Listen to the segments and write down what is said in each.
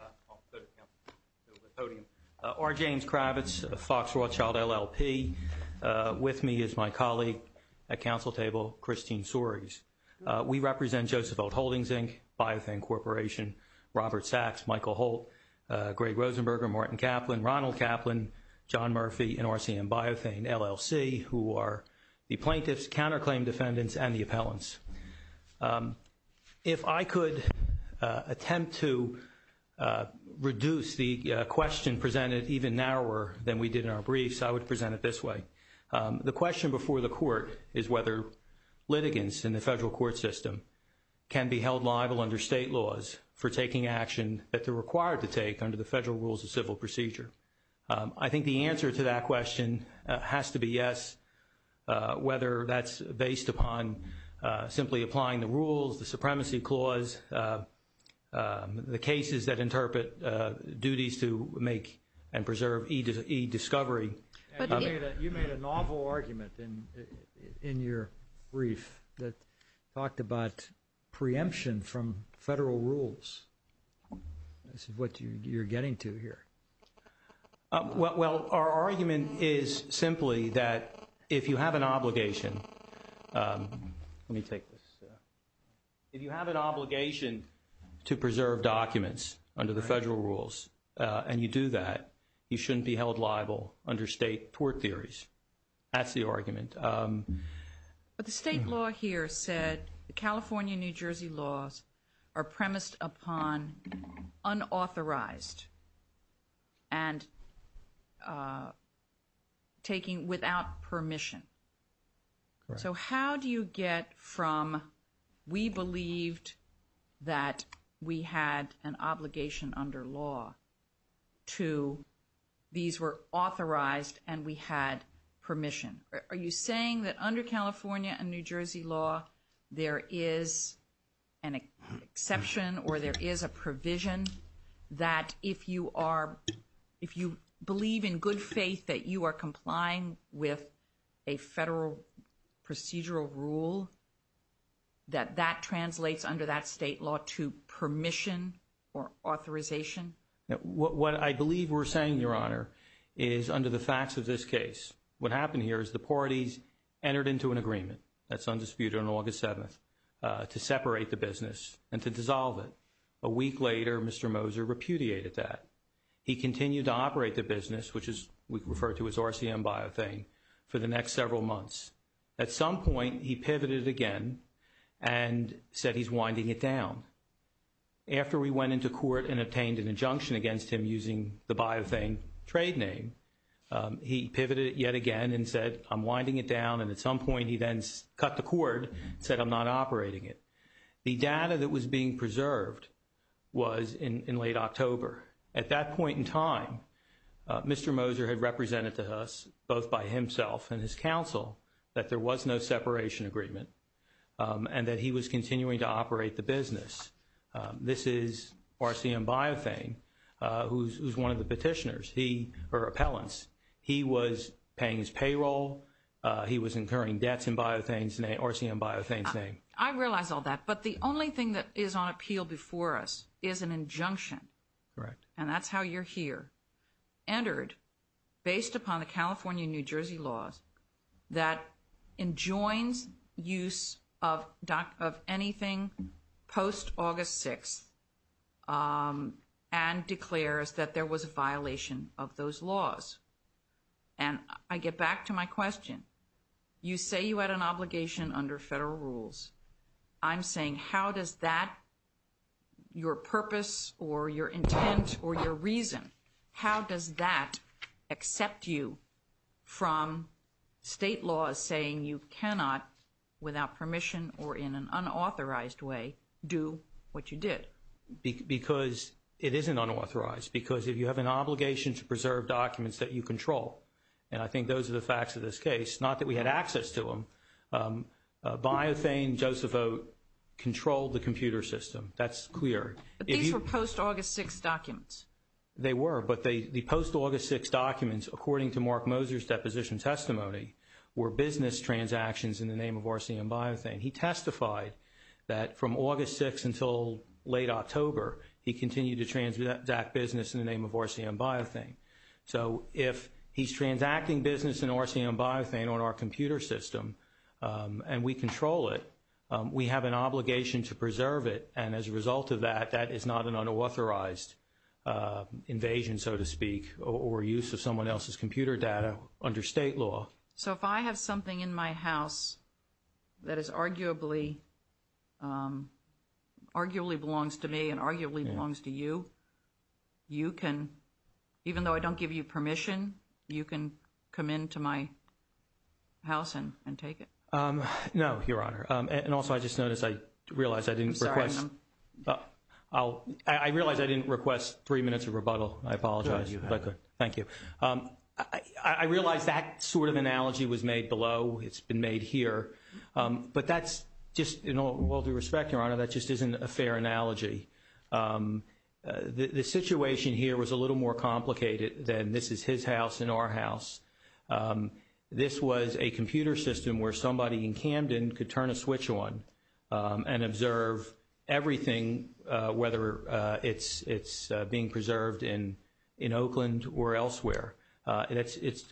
I'll go to the podium. R. James Kravitz, Fox Rothschild LLP. With me is my colleague at council table, Christine Soares. We represent Joseph Oat Holdings Inc., Biothane Corporation, Robert Sachs, Michael Holt, Greg Rosenberger, Martin Kaplan, Ronald Kaplan, John Murphy, and RCM Biothane LLC, who are the plaintiffs, counterclaim defendants, and the appellants. If I could attempt to reduce the question presented even narrower than we did in our briefs, I would present it this way. The question before the court is whether litigants in the federal court system can be held liable under state laws for taking action that they're required to take under the federal rules of civil procedure. I think the answer to that question has to be yes, whether that's based upon simply applying the rules, the Supremacy Clause, the cases that interpret duties to make and preserve e-discovery. You made a novel argument in your brief that talked about preemption from federal rules. This is what you're getting to here. Well, our argument is simply that if you have an obligation, let me take this, if you have an obligation to preserve documents under the federal rules and you do that, you shouldn't be held liable under state tort theories. That's the argument. But the state law here said the California-New Jersey laws are premised upon unauthorized and taking without permission. So how do you get from we believed that we had an obligation under law to these were authorized and we had permission? Are you saying that under California and New Jersey law, there is an exception or there is a provision that if you are, if you believe in good faith that you are complying with a federal procedural rule, that that translates under that state law to permission or authorization? What I believe we're saying, Your Honor, is under the facts of this case, what happened here is the parties entered into an agreement that's undisputed on separate the business and to dissolve it. A week later, Mr. Moser repudiated that. He continued to operate the business, which is we refer to as RCM Biothane, for the next several months. At some point, he pivoted again and said he's winding it down. After we went into court and obtained an injunction against him using the Biothane trade name, he pivoted yet again and said, I'm winding it down. And at some point, he then cut the cord, said, I'm not operating it. The data that was being preserved was in late October. At that point in time, Mr. Moser had represented to us, both by himself and his counsel, that there was no separation agreement and that he was continuing to operate the business. This is RCM Biothane, who's one of the petitioners, he or appellants. He was paying his payroll. He was incurring debts in Biothane's name, RCM Biothane's name. I realize all that, but the only thing that is on appeal before us is an injunction. Correct. And that's how you're here. Entered, based upon the California and New Jersey laws, that enjoins use of anything post-August 6th and declares that there was a violation of those laws. And I get back to my question. You say you had an obligation under federal rules. I'm saying, how does that, your purpose or your intent or your reason, how does that accept you from state laws saying you cannot, without permission or in an unauthorized way, do what you did? Because it isn't unauthorized. Because if you have an obligation to preserve documents that you control, and I think those are the facts of this case, not that we had access to them, Biothane, Joseph O., controlled the computer system. That's clear. But these were post-August 6th documents. They were, but the post-August 6th documents, according to Mark Moser's deposition testimony, were business transactions in the name of RCM Biothane. He testified that from August 6th until late October, he continued to transact business in the name of RCM Biothane. So if he's transacting business in RCM Biothane on our computer system and we control it, we have an obligation to preserve it. And as a result of that, that is not an unauthorized invasion, so to speak, or use of someone else's computer data under state law. So if I have something in my house that is arguably, arguably belongs to me and arguably belongs to you, you can, even though I don't give you permission, you can come into my house and take it? No, Your Honor. And also, I just noticed, I realized I didn't request, I realized I didn't request three minutes of rebuttal. I apologize. Thank you. I realized that sort of analogy was made below. It's been made here. But that's just, in all due respect, Your Honor, that just isn't a fair analogy. The situation here was a little more complicated than this is his house and our house. This was a computer system where somebody in Camden could turn a switch on and observe everything, whether it's being preserved in Oakland or elsewhere.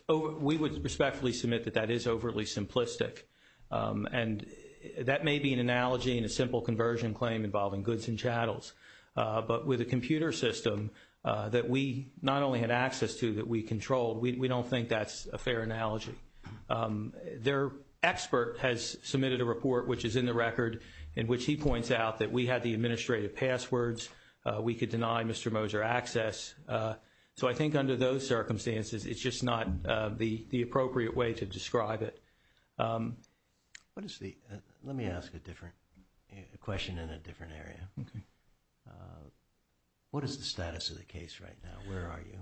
We would respectfully submit that that is overly simplistic. And that may be an analogy and a simple conversion claim involving goods and chattels. But with a computer system that we not only had access to, that we controlled, we don't think that's a fair analogy. Their expert has submitted a report, which is in the record, in which he points out that we had the administrative passwords. We could deny Mr. Moser access. So I think under those circumstances, it's just not the appropriate way to describe it. Let me ask a different question in a different area. What is the status of the case right now? Where are you?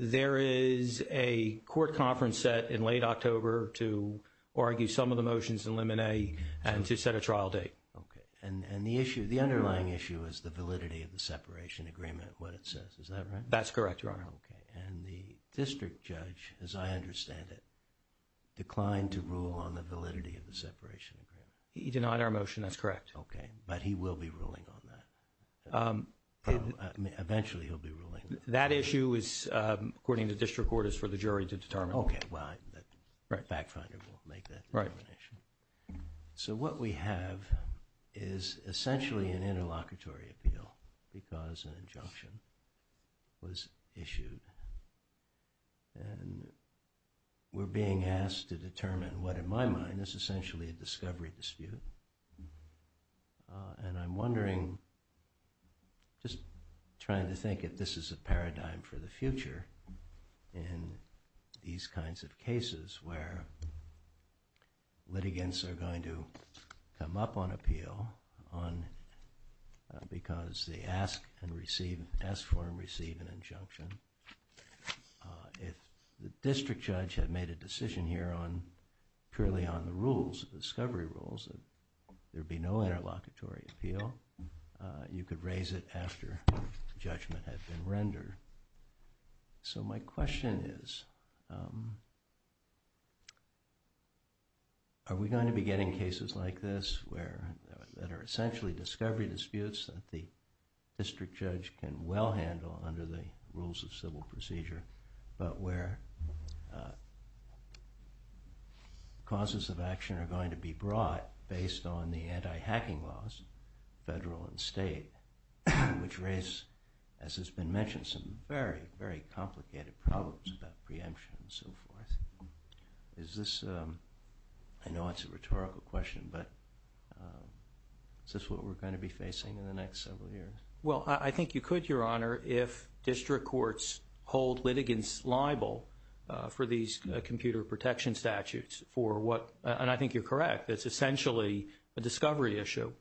There is a court conference set in late October to argue some of the motions in Limine and to set a trial date. And the underlying issue is the validity of the separation agreement, what it says. Is that right? That's correct, Your Honor. And the district judge, as I understand it, declined to rule on the validity of the separation agreement. He denied our motion, that's correct. Okay, but he will be ruling on that. Eventually he'll be ruling. That issue is, according to district court, is for the jury to determine. Okay, well, the fact finder will make that determination. So what we have is was issued. And we're being asked to determine what, in my mind, is essentially a discovery dispute. And I'm wondering, just trying to think if this is a paradigm for the future in these kinds of cases where litigants are going to come up on appeal because they ask for and receive an injunction. If the district judge had made a decision here purely on the rules, discovery rules, there'd be no interlocutory appeal. You could raise it after judgment had been rendered. So my question is, are we going to be getting cases like this where there are essentially discovery disputes that the district judge can well handle under the rules of civil procedure, but where causes of action are going to be brought based on the anti-hacking laws, federal and state, which raise, as has been mentioned, some very, very complicated problems about preemption and so forth? Is this, I know it's a rhetorical question, but is this what we're going to be facing in the next several years? Well, I think you could, Your Honor, if district courts hold litigants liable for these computer protection statutes for what, and I think you're correct, it's essentially a discovery issue.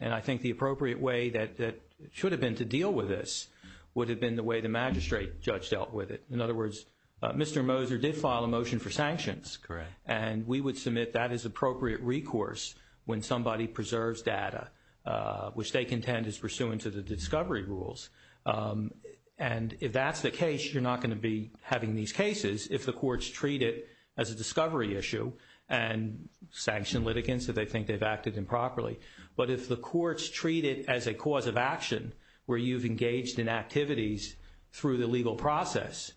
And I think the appropriate way that it should have been to deal with this would have been the way the magistrate judge dealt with it. In other words, Mr. Moser did file a motion for sanctions. Correct. And we would submit that as appropriate recourse when somebody preserves data, which they contend is pursuant to the discovery rules. And if that's the case, you're not going to be having these cases if the courts treat it as a discovery issue and sanction litigants that they think they've acted improperly. But if the courts treat it as a cause of action where you've engaged in activities through the legal process,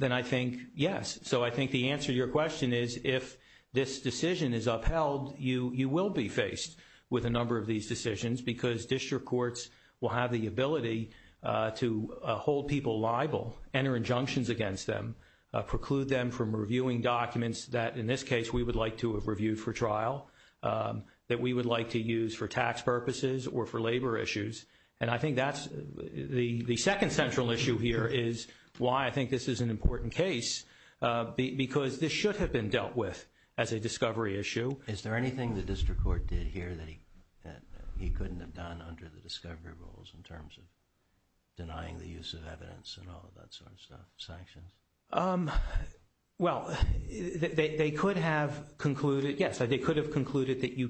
then I think, yes. So I think the answer to your question is if this decision is upheld, you will be faced with a number of these decisions because district courts will have the ability to hold people liable, enter injunctions against them, preclude them from reviewing documents that, in this case, we would like to have reviewed for trial, that we would like to use for tax purposes or for labor issues. And I think that's the second central issue here is why I think this is an important case. Because this should have been dealt with as a discovery issue. Is there anything the district court did here that he couldn't have done under the discovery rules in terms of denying the use of evidence and all of that sort of stuff? Sanctions? Well, they could have concluded, yes, they could have concluded that you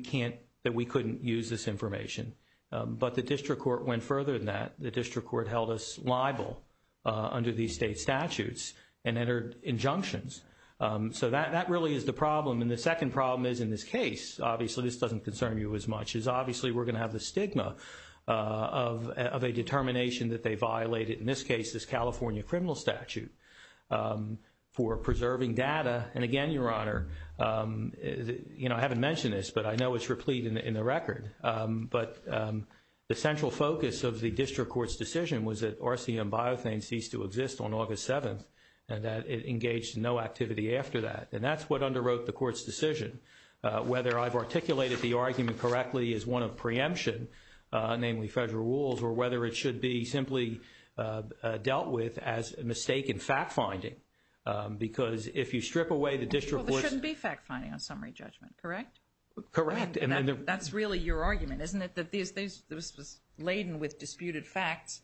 went further than that. The district court held us liable under these state statutes and entered injunctions. So that really is the problem. And the second problem is, in this case, obviously this doesn't concern you as much, is obviously we're going to have the stigma of a determination that they violated, in this case, this California criminal statute for preserving data. And again, Your Honor, I haven't mentioned this, but I know it's the focus of the district court's decision was that RCM biothane ceased to exist on August 7th and that it engaged in no activity after that. And that's what underwrote the court's decision. Whether I've articulated the argument correctly as one of preemption, namely federal rules, or whether it should be simply dealt with as a mistake in fact-finding. Because if you strip away the district court's... Well, there shouldn't be fact-finding on summary judgment, correct? Correct. And that's really your argument, isn't it? That this was laden with disputed facts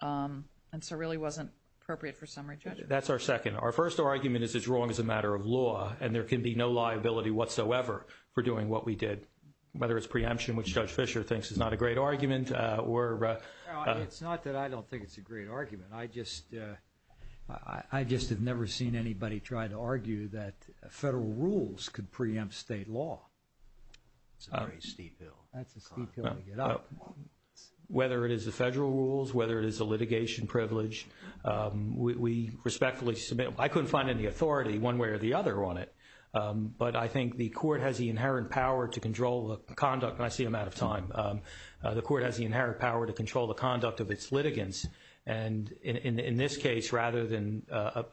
and so really wasn't appropriate for summary judgment. That's our second. Our first argument is it's wrong as a matter of law and there can be no liability whatsoever for doing what we did, whether it's preemption, which Judge Fischer thinks is not a great argument, or... It's not that I don't think it's a great argument. I just have never seen anybody try to argue that federal rules could preempt state law. It's a very steep hill. That's a steep hill to get up. Whether it is the federal rules, whether it is a litigation privilege, we respectfully submit... I couldn't find any authority one way or the other on it. But I think the court has the inherent power to control the conduct... And I see I'm out of time. The court has the inherent power to control the conduct of its litigants. And in this case, rather than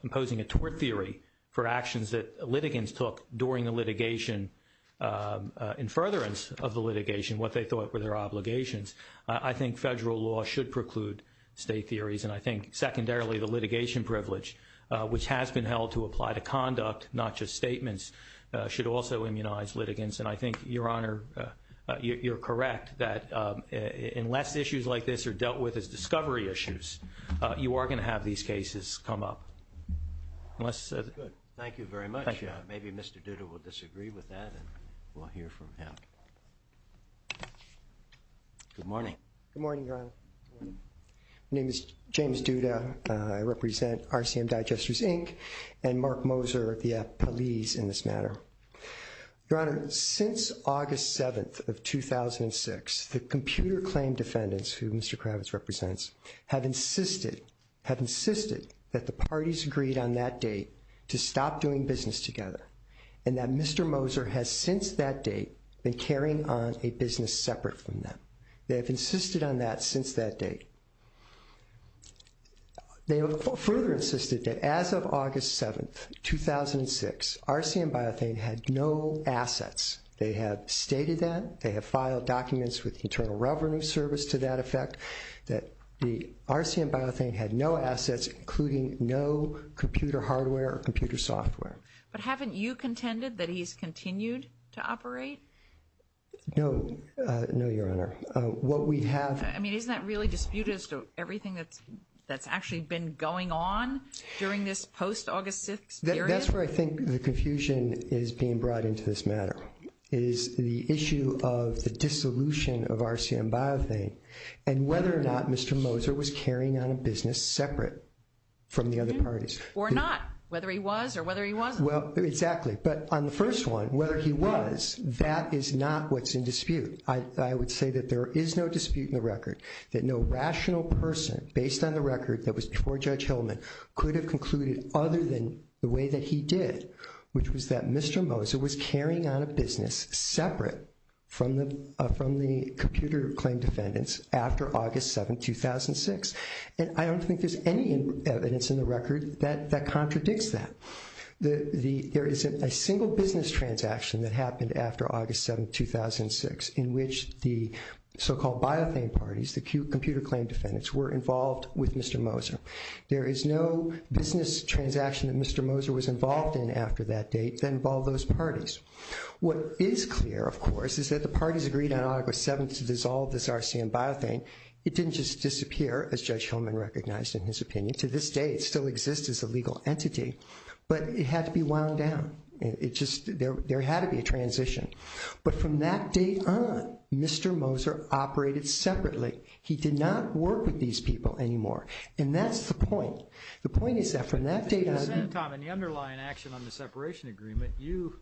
imposing a tort theory for actions that litigants took during the litigation, in furtherance of the litigation, what they thought were their obligations, I think federal law should preclude state theories. And I think secondarily, the litigation privilege, which has been held to apply to conduct, not just statements, should also immunize litigants. And I think, Your Honor, you're correct that unless issues like this are dealt with as discovery issues, you are going to have these cases come up. Unless... Good. Thank you very much. Maybe Mr. Duda will disagree with that and we'll hear from him. Good morning. Good morning, Your Honor. My name is James Duda. I represent RCM Digesters, Inc. and Mark Moser, the police, in this matter. Your Honor, since August 7th of 2006, the computer claim defendants, who Mr. Kravitz represents, have insisted that the parties agreed on that date to stop doing business together, and that Mr. Moser has since that date been carrying on a business separate from them. They have insisted on that since that date. They have further insisted that as of August 7th, 2006, RCM Biothane had no assets. They have stated that. They have filed documents with the Internal Revenue Service to that effect, that the RCM Biothane had no assets, including no computer hardware or computer software. But haven't you contended that he's continued to operate? No. No, Your Honor. What we have... I mean, isn't that really disputed as to everything that's actually been going on during this post-August 6th period? That's where I think the confusion is being brought into this matter, is the issue of the dissolution of RCM Biothane and whether or not Mr. Moser was carrying on a business separate from the other parties. Or not. Whether he was or whether he wasn't. Well, exactly. But on the first one, whether he was, that is not what's in dispute. I would say that there is no dispute in the record that no rational person, based on the record that was before Judge Hillman, could have concluded other than the way that he did, which was that Mr. Moser was carrying on a business separate from the computer claim defendants after August 7th, 2006. And I don't think there's any evidence in the record that contradicts that. There isn't a single business transaction that happened after August 7th, 2006, in which the Biothane parties, the computer claim defendants, were involved with Mr. Moser. There is no business transaction that Mr. Moser was involved in after that date that involved those parties. What is clear, of course, is that the parties agreed on August 7th to dissolve this RCM Biothane. It didn't just disappear, as Judge Hillman recognized in his opinion. To this day, it still exists as a legal entity. But it had to be wound down. There had to be a transition. But from that date on, Mr. Moser operated separately. He did not work with these people anymore. And that's the point. The point is that from that date on... Tom, in the underlying action on the separation agreement, you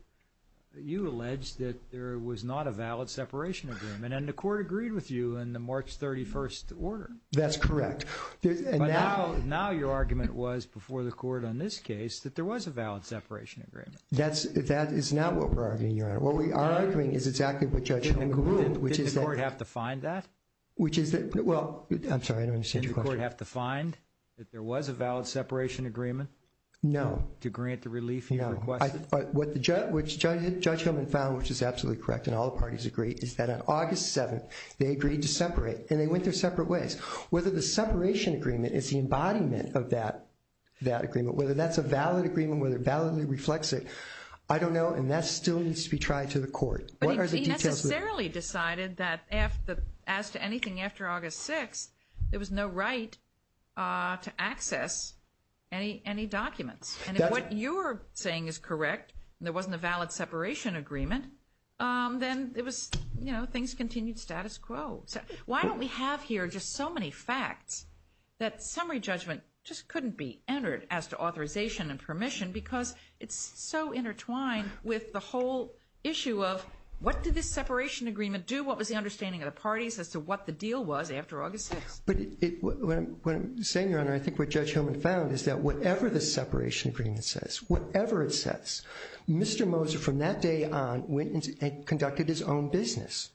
alleged that there was not a valid separation agreement. And the court agreed with you in the March 31st order. That's correct. Now your argument was, before the court on this case, that there was a valid separation agreement. That is not what we're arguing, Your Honor. What we are arguing is exactly what Judge Hillman groomed, which is that... Didn't the court have to find that? Well, I'm sorry, I don't understand your question. Didn't the court have to find that there was a valid separation agreement? No. To grant the relief you requested? No. But what Judge Hillman found, which is absolutely correct, and all the parties agree, is that on August 7th, they agreed to separate. And they went their separate ways. Whether the separation agreement is the embodiment of that agreement, whether that's a valid agreement, whether it validly reflects it, I don't know. And that still needs to be tried to the court. But he necessarily decided that, as to anything after August 6th, there was no right to access any documents. And if what you're saying is correct, and there wasn't a valid separation agreement, then things continued status quo. Why don't we have here just so many facts that summary judgment just couldn't be entered as to authorization and permission? Because it's so intertwined with the whole issue of, what did this separation agreement do? What was the understanding of the parties as to what the deal was after August 6th? But what I'm saying, Your Honor, I think what Judge Hillman found is that whatever the separation agreement says, whatever it says, Mr. Moser, from that day on, went and conducted his own business.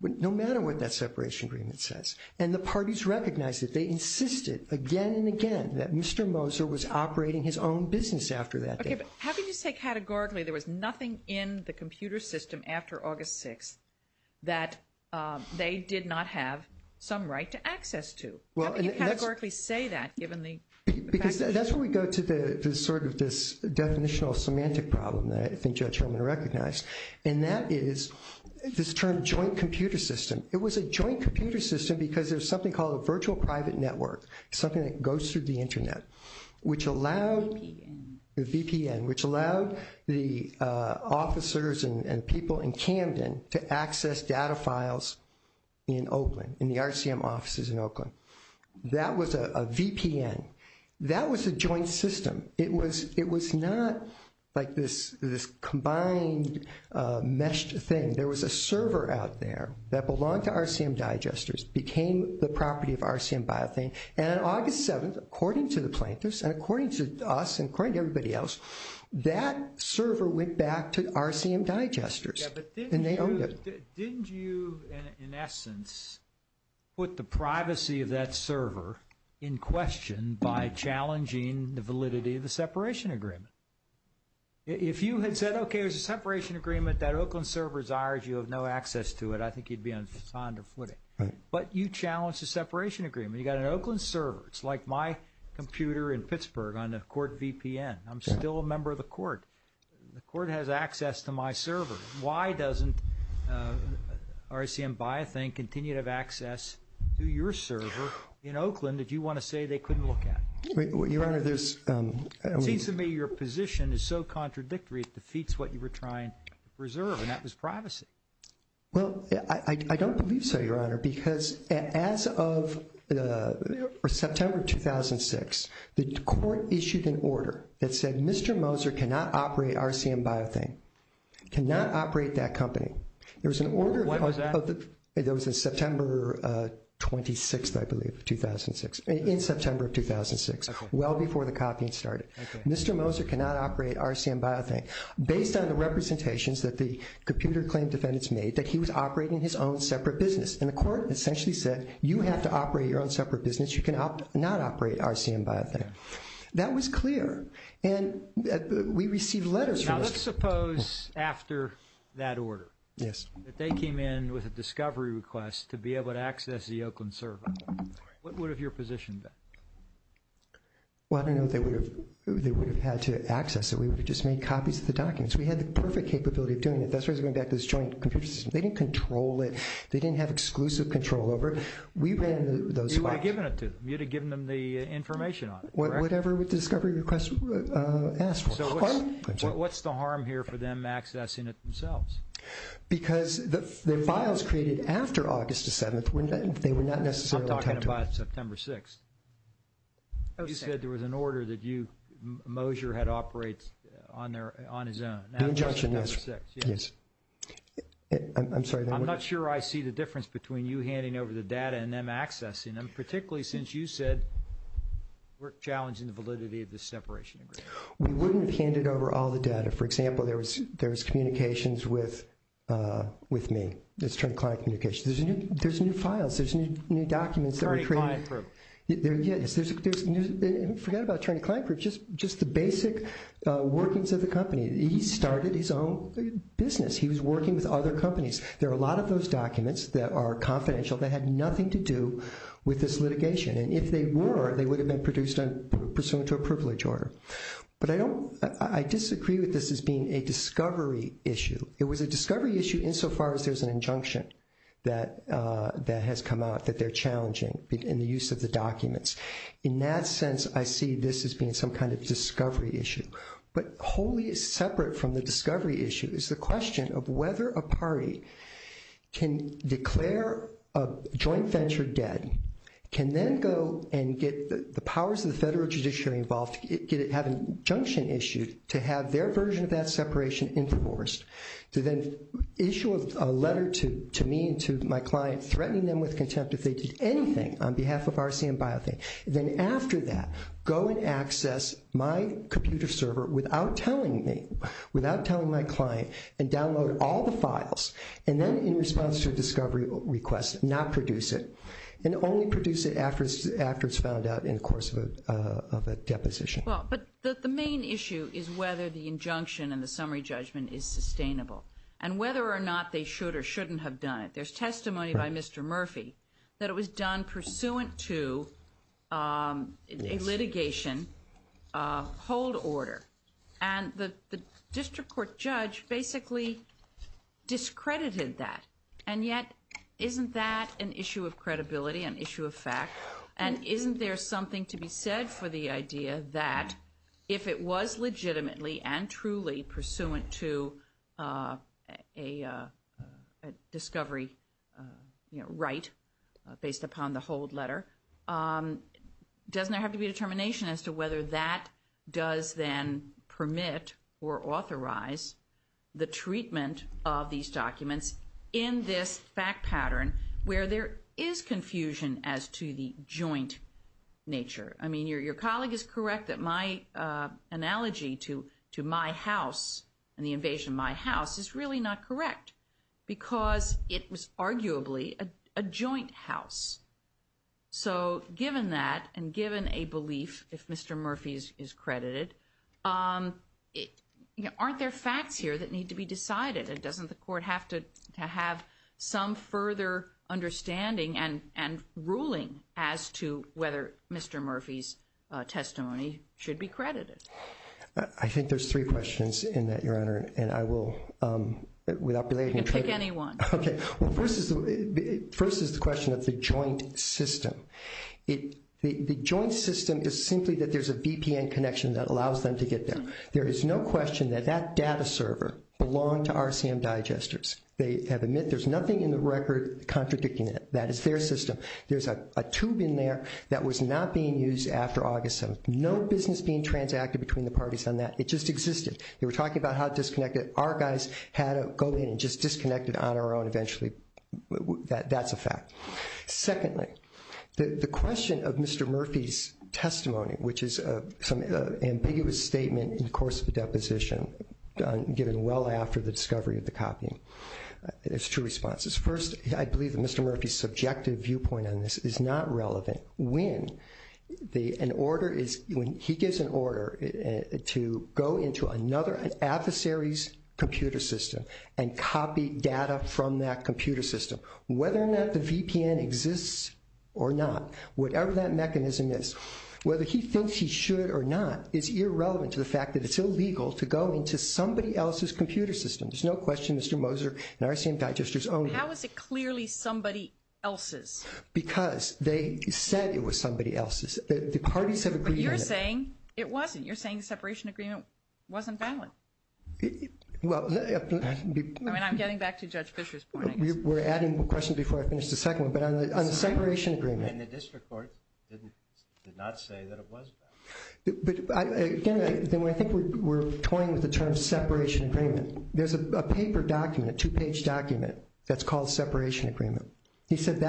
No matter what that separation agreement says. And the parties recognized it. They insisted again and again that Mr. Moser was operating his own business after that day. Okay, but how can you say categorically there was nothing in the computer system after August 6th that they did not have some right to access to? How can you categorically say that, given the facts? Because that's where we go to this sort of definitional semantic problem that I think Judge Hillman recognized. And that is this term, joint computer system. It was a joint computer system because there was something called a virtual private network, something that goes through the internet, which allowed the officers and people in Camden to access data files in Oakland, in the RCM offices in Oakland. That was a VPN. That was a joint system. It was not like this combined meshed thing. There was a server out there that belonged to RCM Digesters, became the property of RCM Biothane. And on August 7th, according to the plaintiffs and according to us and according to everybody else, that server went back to RCM Digesters. And they owned it. Didn't you, in essence, put the privacy of that server in question by challenging the validity of the separation agreement? If you had said, okay, there's a separation agreement that Oakland server is ours, you have no access to it, I think you'd be on solid footing. But you challenged the separation agreement. You got an Oakland server. It's like my computer in Pittsburgh on a court VPN. I'm still a member of the court. The court has access to my server. Why doesn't RCM Biothane continue to have access to your server in Oakland that you want to say they couldn't look at? Your Honor, there's... It seems to me your position is so contradictory, it defeats what you were trying to preserve, and that was privacy. Well, I don't believe so, Your Honor, because as of September 2006, the court issued an order that said Mr. Moser cannot operate RCM Biothane, cannot operate that company. There was an order... When was that? That was in September 26th, I believe, 2006, in September 2006, well before the copying started. Mr. Moser cannot operate RCM Biothane. Based on the representations that the computer claim defendants made, that he was operating his own separate business, and the court essentially said you have to operate your own separate business. You cannot operate RCM Biothane. That was clear, and we received letters from... Let's suppose, after that order, that they came in with a discovery request to be able to access the Oakland server. What would have your position been? Well, I don't know if they would have had to access it. We would have just made copies of the documents. We had the perfect capability of doing it. That's why I was going back to this joint computer system. They didn't control it. They didn't have exclusive control over it. We ran those files. You would have given it to them. You would have given them the information on it, correct? Whatever the discovery request asked for. So what's the harm here for them accessing it themselves? Because the files created after August the 7th, they would not necessarily have to... I'm talking about September 6th. You said there was an order that you, Moser, had operated on his own. The injunction, yes. That was September 6th, yes. I'm sorry. I'm not sure I see the difference between you handing over the data and them accessing them, particularly since you said we're challenging the validity of this separation agreement. We wouldn't have handed over all the data. For example, there was communications with me. It's attorney-client communications. There's new files. There's new documents that we're creating. Attorney-client group. Yes. Forget about attorney-client group. Just the basic workings of the company. He started his own business. He was working with other companies. There are a lot of those documents that are confidential that had nothing to do with this litigation. And if they were, they would have been produced pursuant to a privilege order. But I disagree with this as being a discovery issue. It was a discovery issue insofar as there's an injunction that has come out that they're challenging in the use of the documents. In that sense, I see this as being some kind of discovery issue. But wholly separate from the discovery issue is the question of whether a party can declare a joint venture dead, can then go and get the powers of the federal judiciary involved, have an injunction issued to have their version of that separation enforced, to then issue a letter to me and to my client threatening them with contempt if they did anything on behalf of RCM Biothink, then after that go and access my computer server without telling me, without telling my client, and download all the files, and then in response to a discovery request, not produce it, and only produce it after it's found out in the course of a deposition. Well, but the main issue is whether the injunction and the summary judgment is sustainable and whether or not they should or shouldn't have done it. There's testimony by Mr. Murphy that it was done pursuant to a litigation hold order. And the district court judge basically discredited that. And yet, isn't that an issue of credibility, an issue of fact? And isn't there something to be said for the idea that if it was legitimately and truly pursuant to a discovery right based upon the hold letter, doesn't there have to be a determination as to whether that does then permit or authorize the treatment of these documents in this fact pattern where there is confusion as to the joint nature? I mean, your colleague is correct that my analogy to my house and the invasion of my house is really not correct because it was arguably a joint house. So given that and given a belief if Mr. Murphy is credited, aren't there facts here that need to be decided? Doesn't the court have to have some further understanding and ruling as to whether Mr. Murphy's testimony should be credited? I think there's three questions in that, Your Honor, and I will, without belaying it. You can pick any one. Okay. Well, first is the question of the joint system. The joint system is simply that there's a VPN connection that allows them to get there. There is no question that that data server belonged to RCM Digesters. They have admitted there's nothing in the record contradicting it. That is their system. There's a tube in there that was not being used after August 27th. No business being transacted between the parties on that. It just existed. They were talking about how it disconnected. Our guys had to go in and just disconnect it on our own eventually. That's a fact. Secondly, the question of Mr. Murphy's testimony, which is some ambiguous statement in the course of the deposition given well after the discovery of the copying. There's two responses. First, I believe that Mr. Murphy's subjective viewpoint on this is not relevant when he gives an order to go into another adversary's computer system and copy data from that computer system. Whether or not the VPN exists or not, whatever that mechanism is, whether he thinks he should or not is irrelevant to the fact that it's illegal to go into somebody else's computer system. There's no question Mr. Moser and because they said it was somebody else's, the parties have agreed on it. But you're saying it wasn't. You're saying the separation agreement wasn't valid. I'm getting back to Judge Fischer's point. We're adding questions before I finish the second one, but on the separation agreement. And the district court did not say that it was valid. Again, I think we're toying with the term separation agreement. There's a paper document, a two-page document that's called separation agreement. He said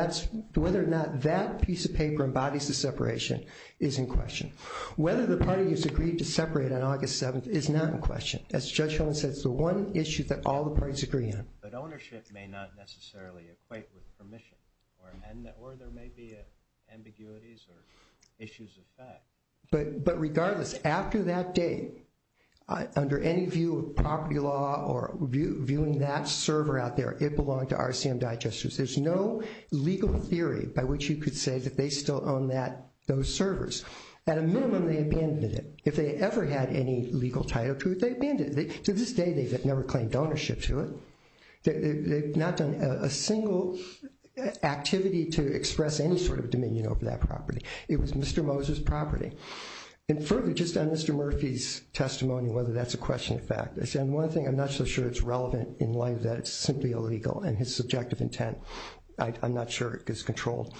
whether or not that piece of paper embodies the separation is in question. Whether the parties agreed to separate on August 7th is not in question. As Judge Homan said, it's the one issue that all the parties agree on. But ownership may not necessarily equate with permission or there may be ambiguities or issues of fact. But regardless, after that date, under any view of property law or viewing that server out there, it belonged to RCM Digesters. There's no legal theory by which you could say that they still own those servers. At a minimum, they abandoned it. If they ever had any legal title to it, they abandoned it. To this day, they've never claimed ownership to it. They've not done a single activity to express any sort of dominion over that property. It was Mr. Moser's property. And further, just on Mr. Murphy's testimony, whether that's a question of fact. I said one thing, I'm not so sure it's relevant in light of that. It's simply illegal. And his subjective intent, I'm not sure it gets controlled.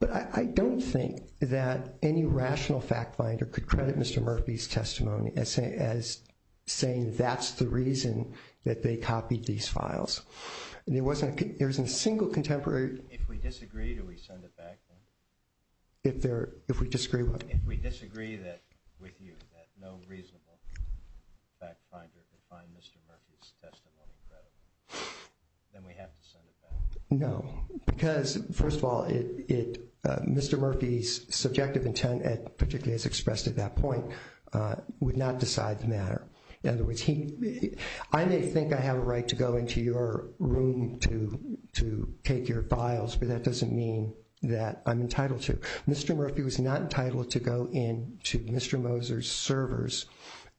But I don't think that any rational fact finder could credit Mr. Murphy's testimony as saying that's the reason that they copied these files. There is no reason that no reasonable fact finder could find Mr. Murphy's testimony credible. Then we have to send it back. No. Because, first of all, Mr. Murphy's subjective intent, particularly as expressed at that point, would not decide the matter. In other words, I may think I have a right to go into your room to take your files, but that doesn't mean that I'm entitled to. Mr. Murphy was not entitled to go into Mr. Moser's servers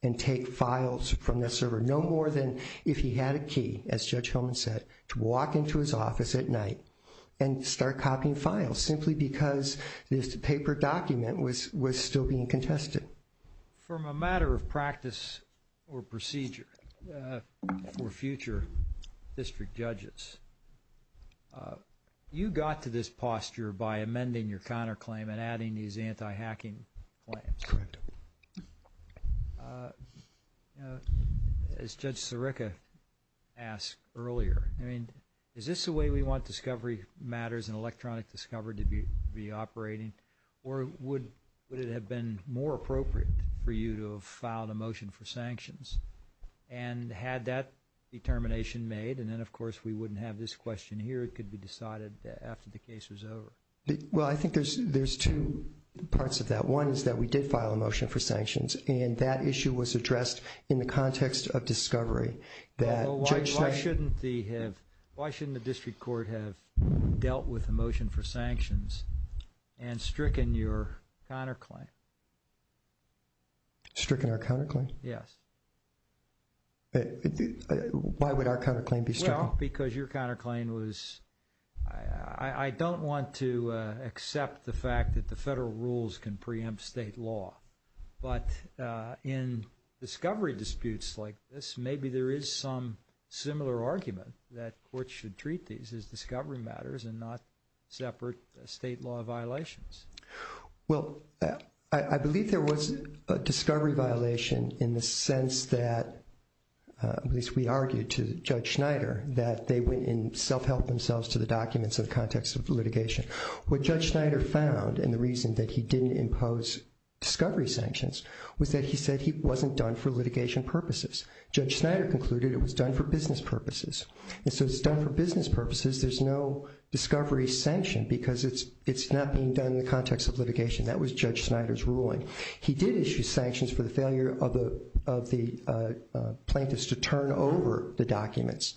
and take files from that server, no more than if he had a key, as Judge Hillman said, to walk into his office at night and start copying files, simply because this paper document was still being contested. From a matter of practice or procedure for future district judges, you got to this posture by amending your counterclaim and adding these anti-hacking claims. As Judge Sirica asked earlier, I mean, is this the way we want discovery matters and electronic discovery to be operating? Or would it have been more appropriate for you to have filed a motion for sanctions? And had that determination made, and then of course we wouldn't have this question here. It could be decided after the case was over. Well, I think there's two parts of that. One is that we did file a motion for sanctions, and that issue was addressed in the context of discovery. Why shouldn't the district court have dealt with the motion for sanctions and stricken your counterclaim? Stricken our counterclaim? Yes. Why would our counterclaim be stricken? Well, because your counterclaim was... I don't want to accept the fact that the federal rules can preempt state law. But in discovery disputes like this, maybe there is some similar argument that courts should treat these as discovery matters and not separate state law violations. Well, I believe there was a discovery violation in the sense that at least we argued to Judge Schneider that they went and self-helped themselves to the documents in the context of litigation. What Judge Schneider found, and the reason that he didn't impose discovery sanctions, was that he said he wasn't done for litigation purposes. Judge Schneider concluded it was done for business purposes. And so it's done for business purposes. There's no discovery sanction because it's not being done in the context of litigation. That was Judge Schneider's ruling. He did issue sanctions for the failure of the plaintiffs to turn over the documents,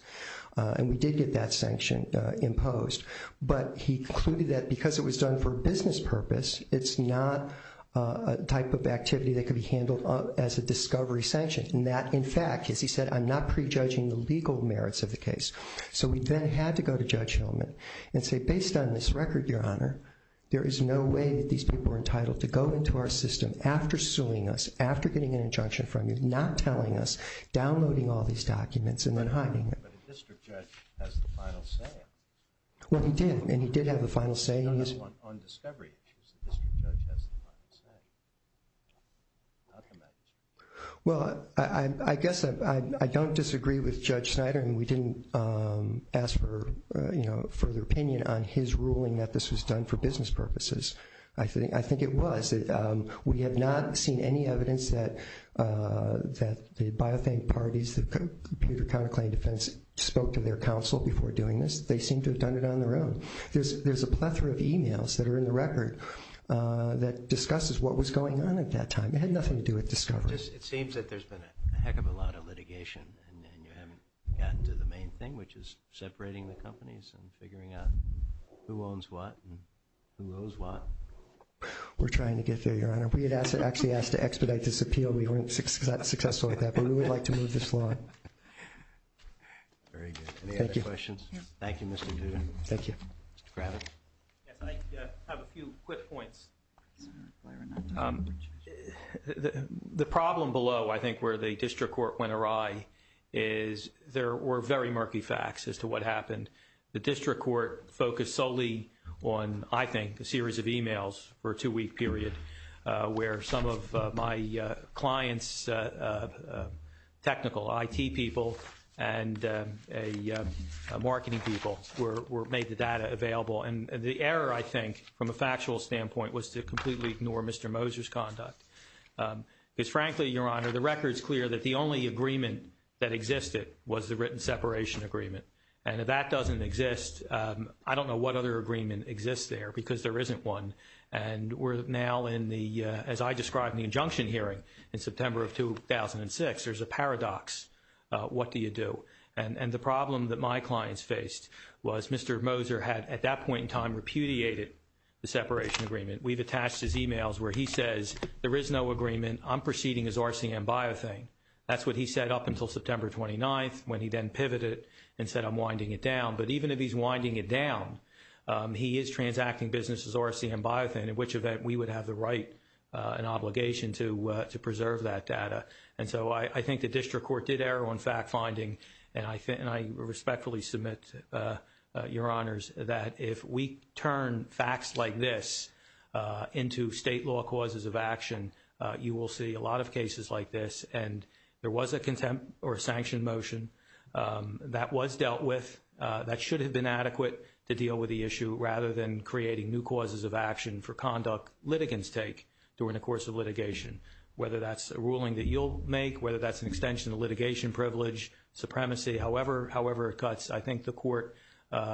and we did get that sanction imposed. But he concluded that because it was done for business purpose, it's not a type of activity that could be handled as a discovery sanction. And that, in fact, as he said, I'm not prejudging the legal merits of the case. So we then had to go to Judge Hillman and say, based on this record, Your Honor, there is no way that these people are entitled to go into our system after suing us, after getting an injunction from you, not telling us, downloading all these documents, and then hiding them. But a district judge has the final say. Well, he did, and he did have the final say. No, no, on discovery issues, the district judge has the final say. Well, I guess I don't disagree with Judge Schneider, and we didn't ask for further opinion on his ruling that this was done for business purposes. I think it was. We have not seen any evidence that the biothank parties, the Computer Counterclaim Defense, spoke to their counsel before doing this. They seem to have done it on their own. There's a plethora of emails that are in the record that discusses what was going on at that time. It had nothing to do with discovery. It seems that there's been a heck of a lot of litigation, and you haven't gotten to the main thing, which is separating the companies and figuring out who owns what and who owes what. We're trying to get there, Your Honor. We had actually asked to expedite this appeal. We weren't successful at that, but we would like to move this along. Very good. Any other questions? Thank you, Mr. Duden. Thank you. Mr. Grannon. Yes, I have a few quick points. The problem below, I think, where the district court went awry is there were very murky facts as to what happened. The district court focused solely on, I think, a series of emails for a two-week period where some of my clients' technical IT people and marketing people made the data available. And the error, I think, from a factual standpoint, was to completely ignore Mr. Moser's conduct. Because frankly, Your Honor, the record's clear that the only agreement that existed was the written separation agreement. And if that doesn't exist, I don't know what other agreement exists there because there isn't one. And we're now in the, as I described in the injunction hearing in September of 2006, there's a paradox. What do you do? And the problem that my clients faced was Mr. Moser had, at that point in time, repudiated the separation agreement. We've attached his emails where he says, there is no agreement. I'm proceeding as RCM Biothane. That's what he said up until September 29th, when he then pivoted and said, I'm winding it down. But even if he's winding it down, he is transacting businesses as RCM Biothane, in which event we would have the right and obligation to preserve that data. And so I think the district court did err on fact-finding. And I respectfully submit, Your Honors, that if we turn facts like this into state law causes of action, you will see a lot of cases like this. And there was a contempt or sanction motion that was dealt with that should have been adequate to deal with the issue rather than creating new causes of action for conduct litigants take during the course of litigation. Whether that's a ruling that you'll make, whether that's an extension of litigation privilege, supremacy, however it cuts, I think the court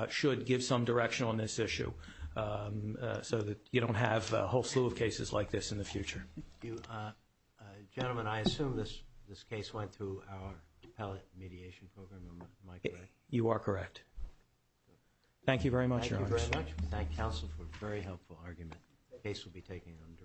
should give some direction on this issue so that you don't have a whole slew of cases like this in the future. Gentlemen, I assume this case went through our pellet mediation program. You are correct. Thank you very much, Your Honors. Thank you very much. We thank counsel for a very helpful argument. The case will be taken under advisement.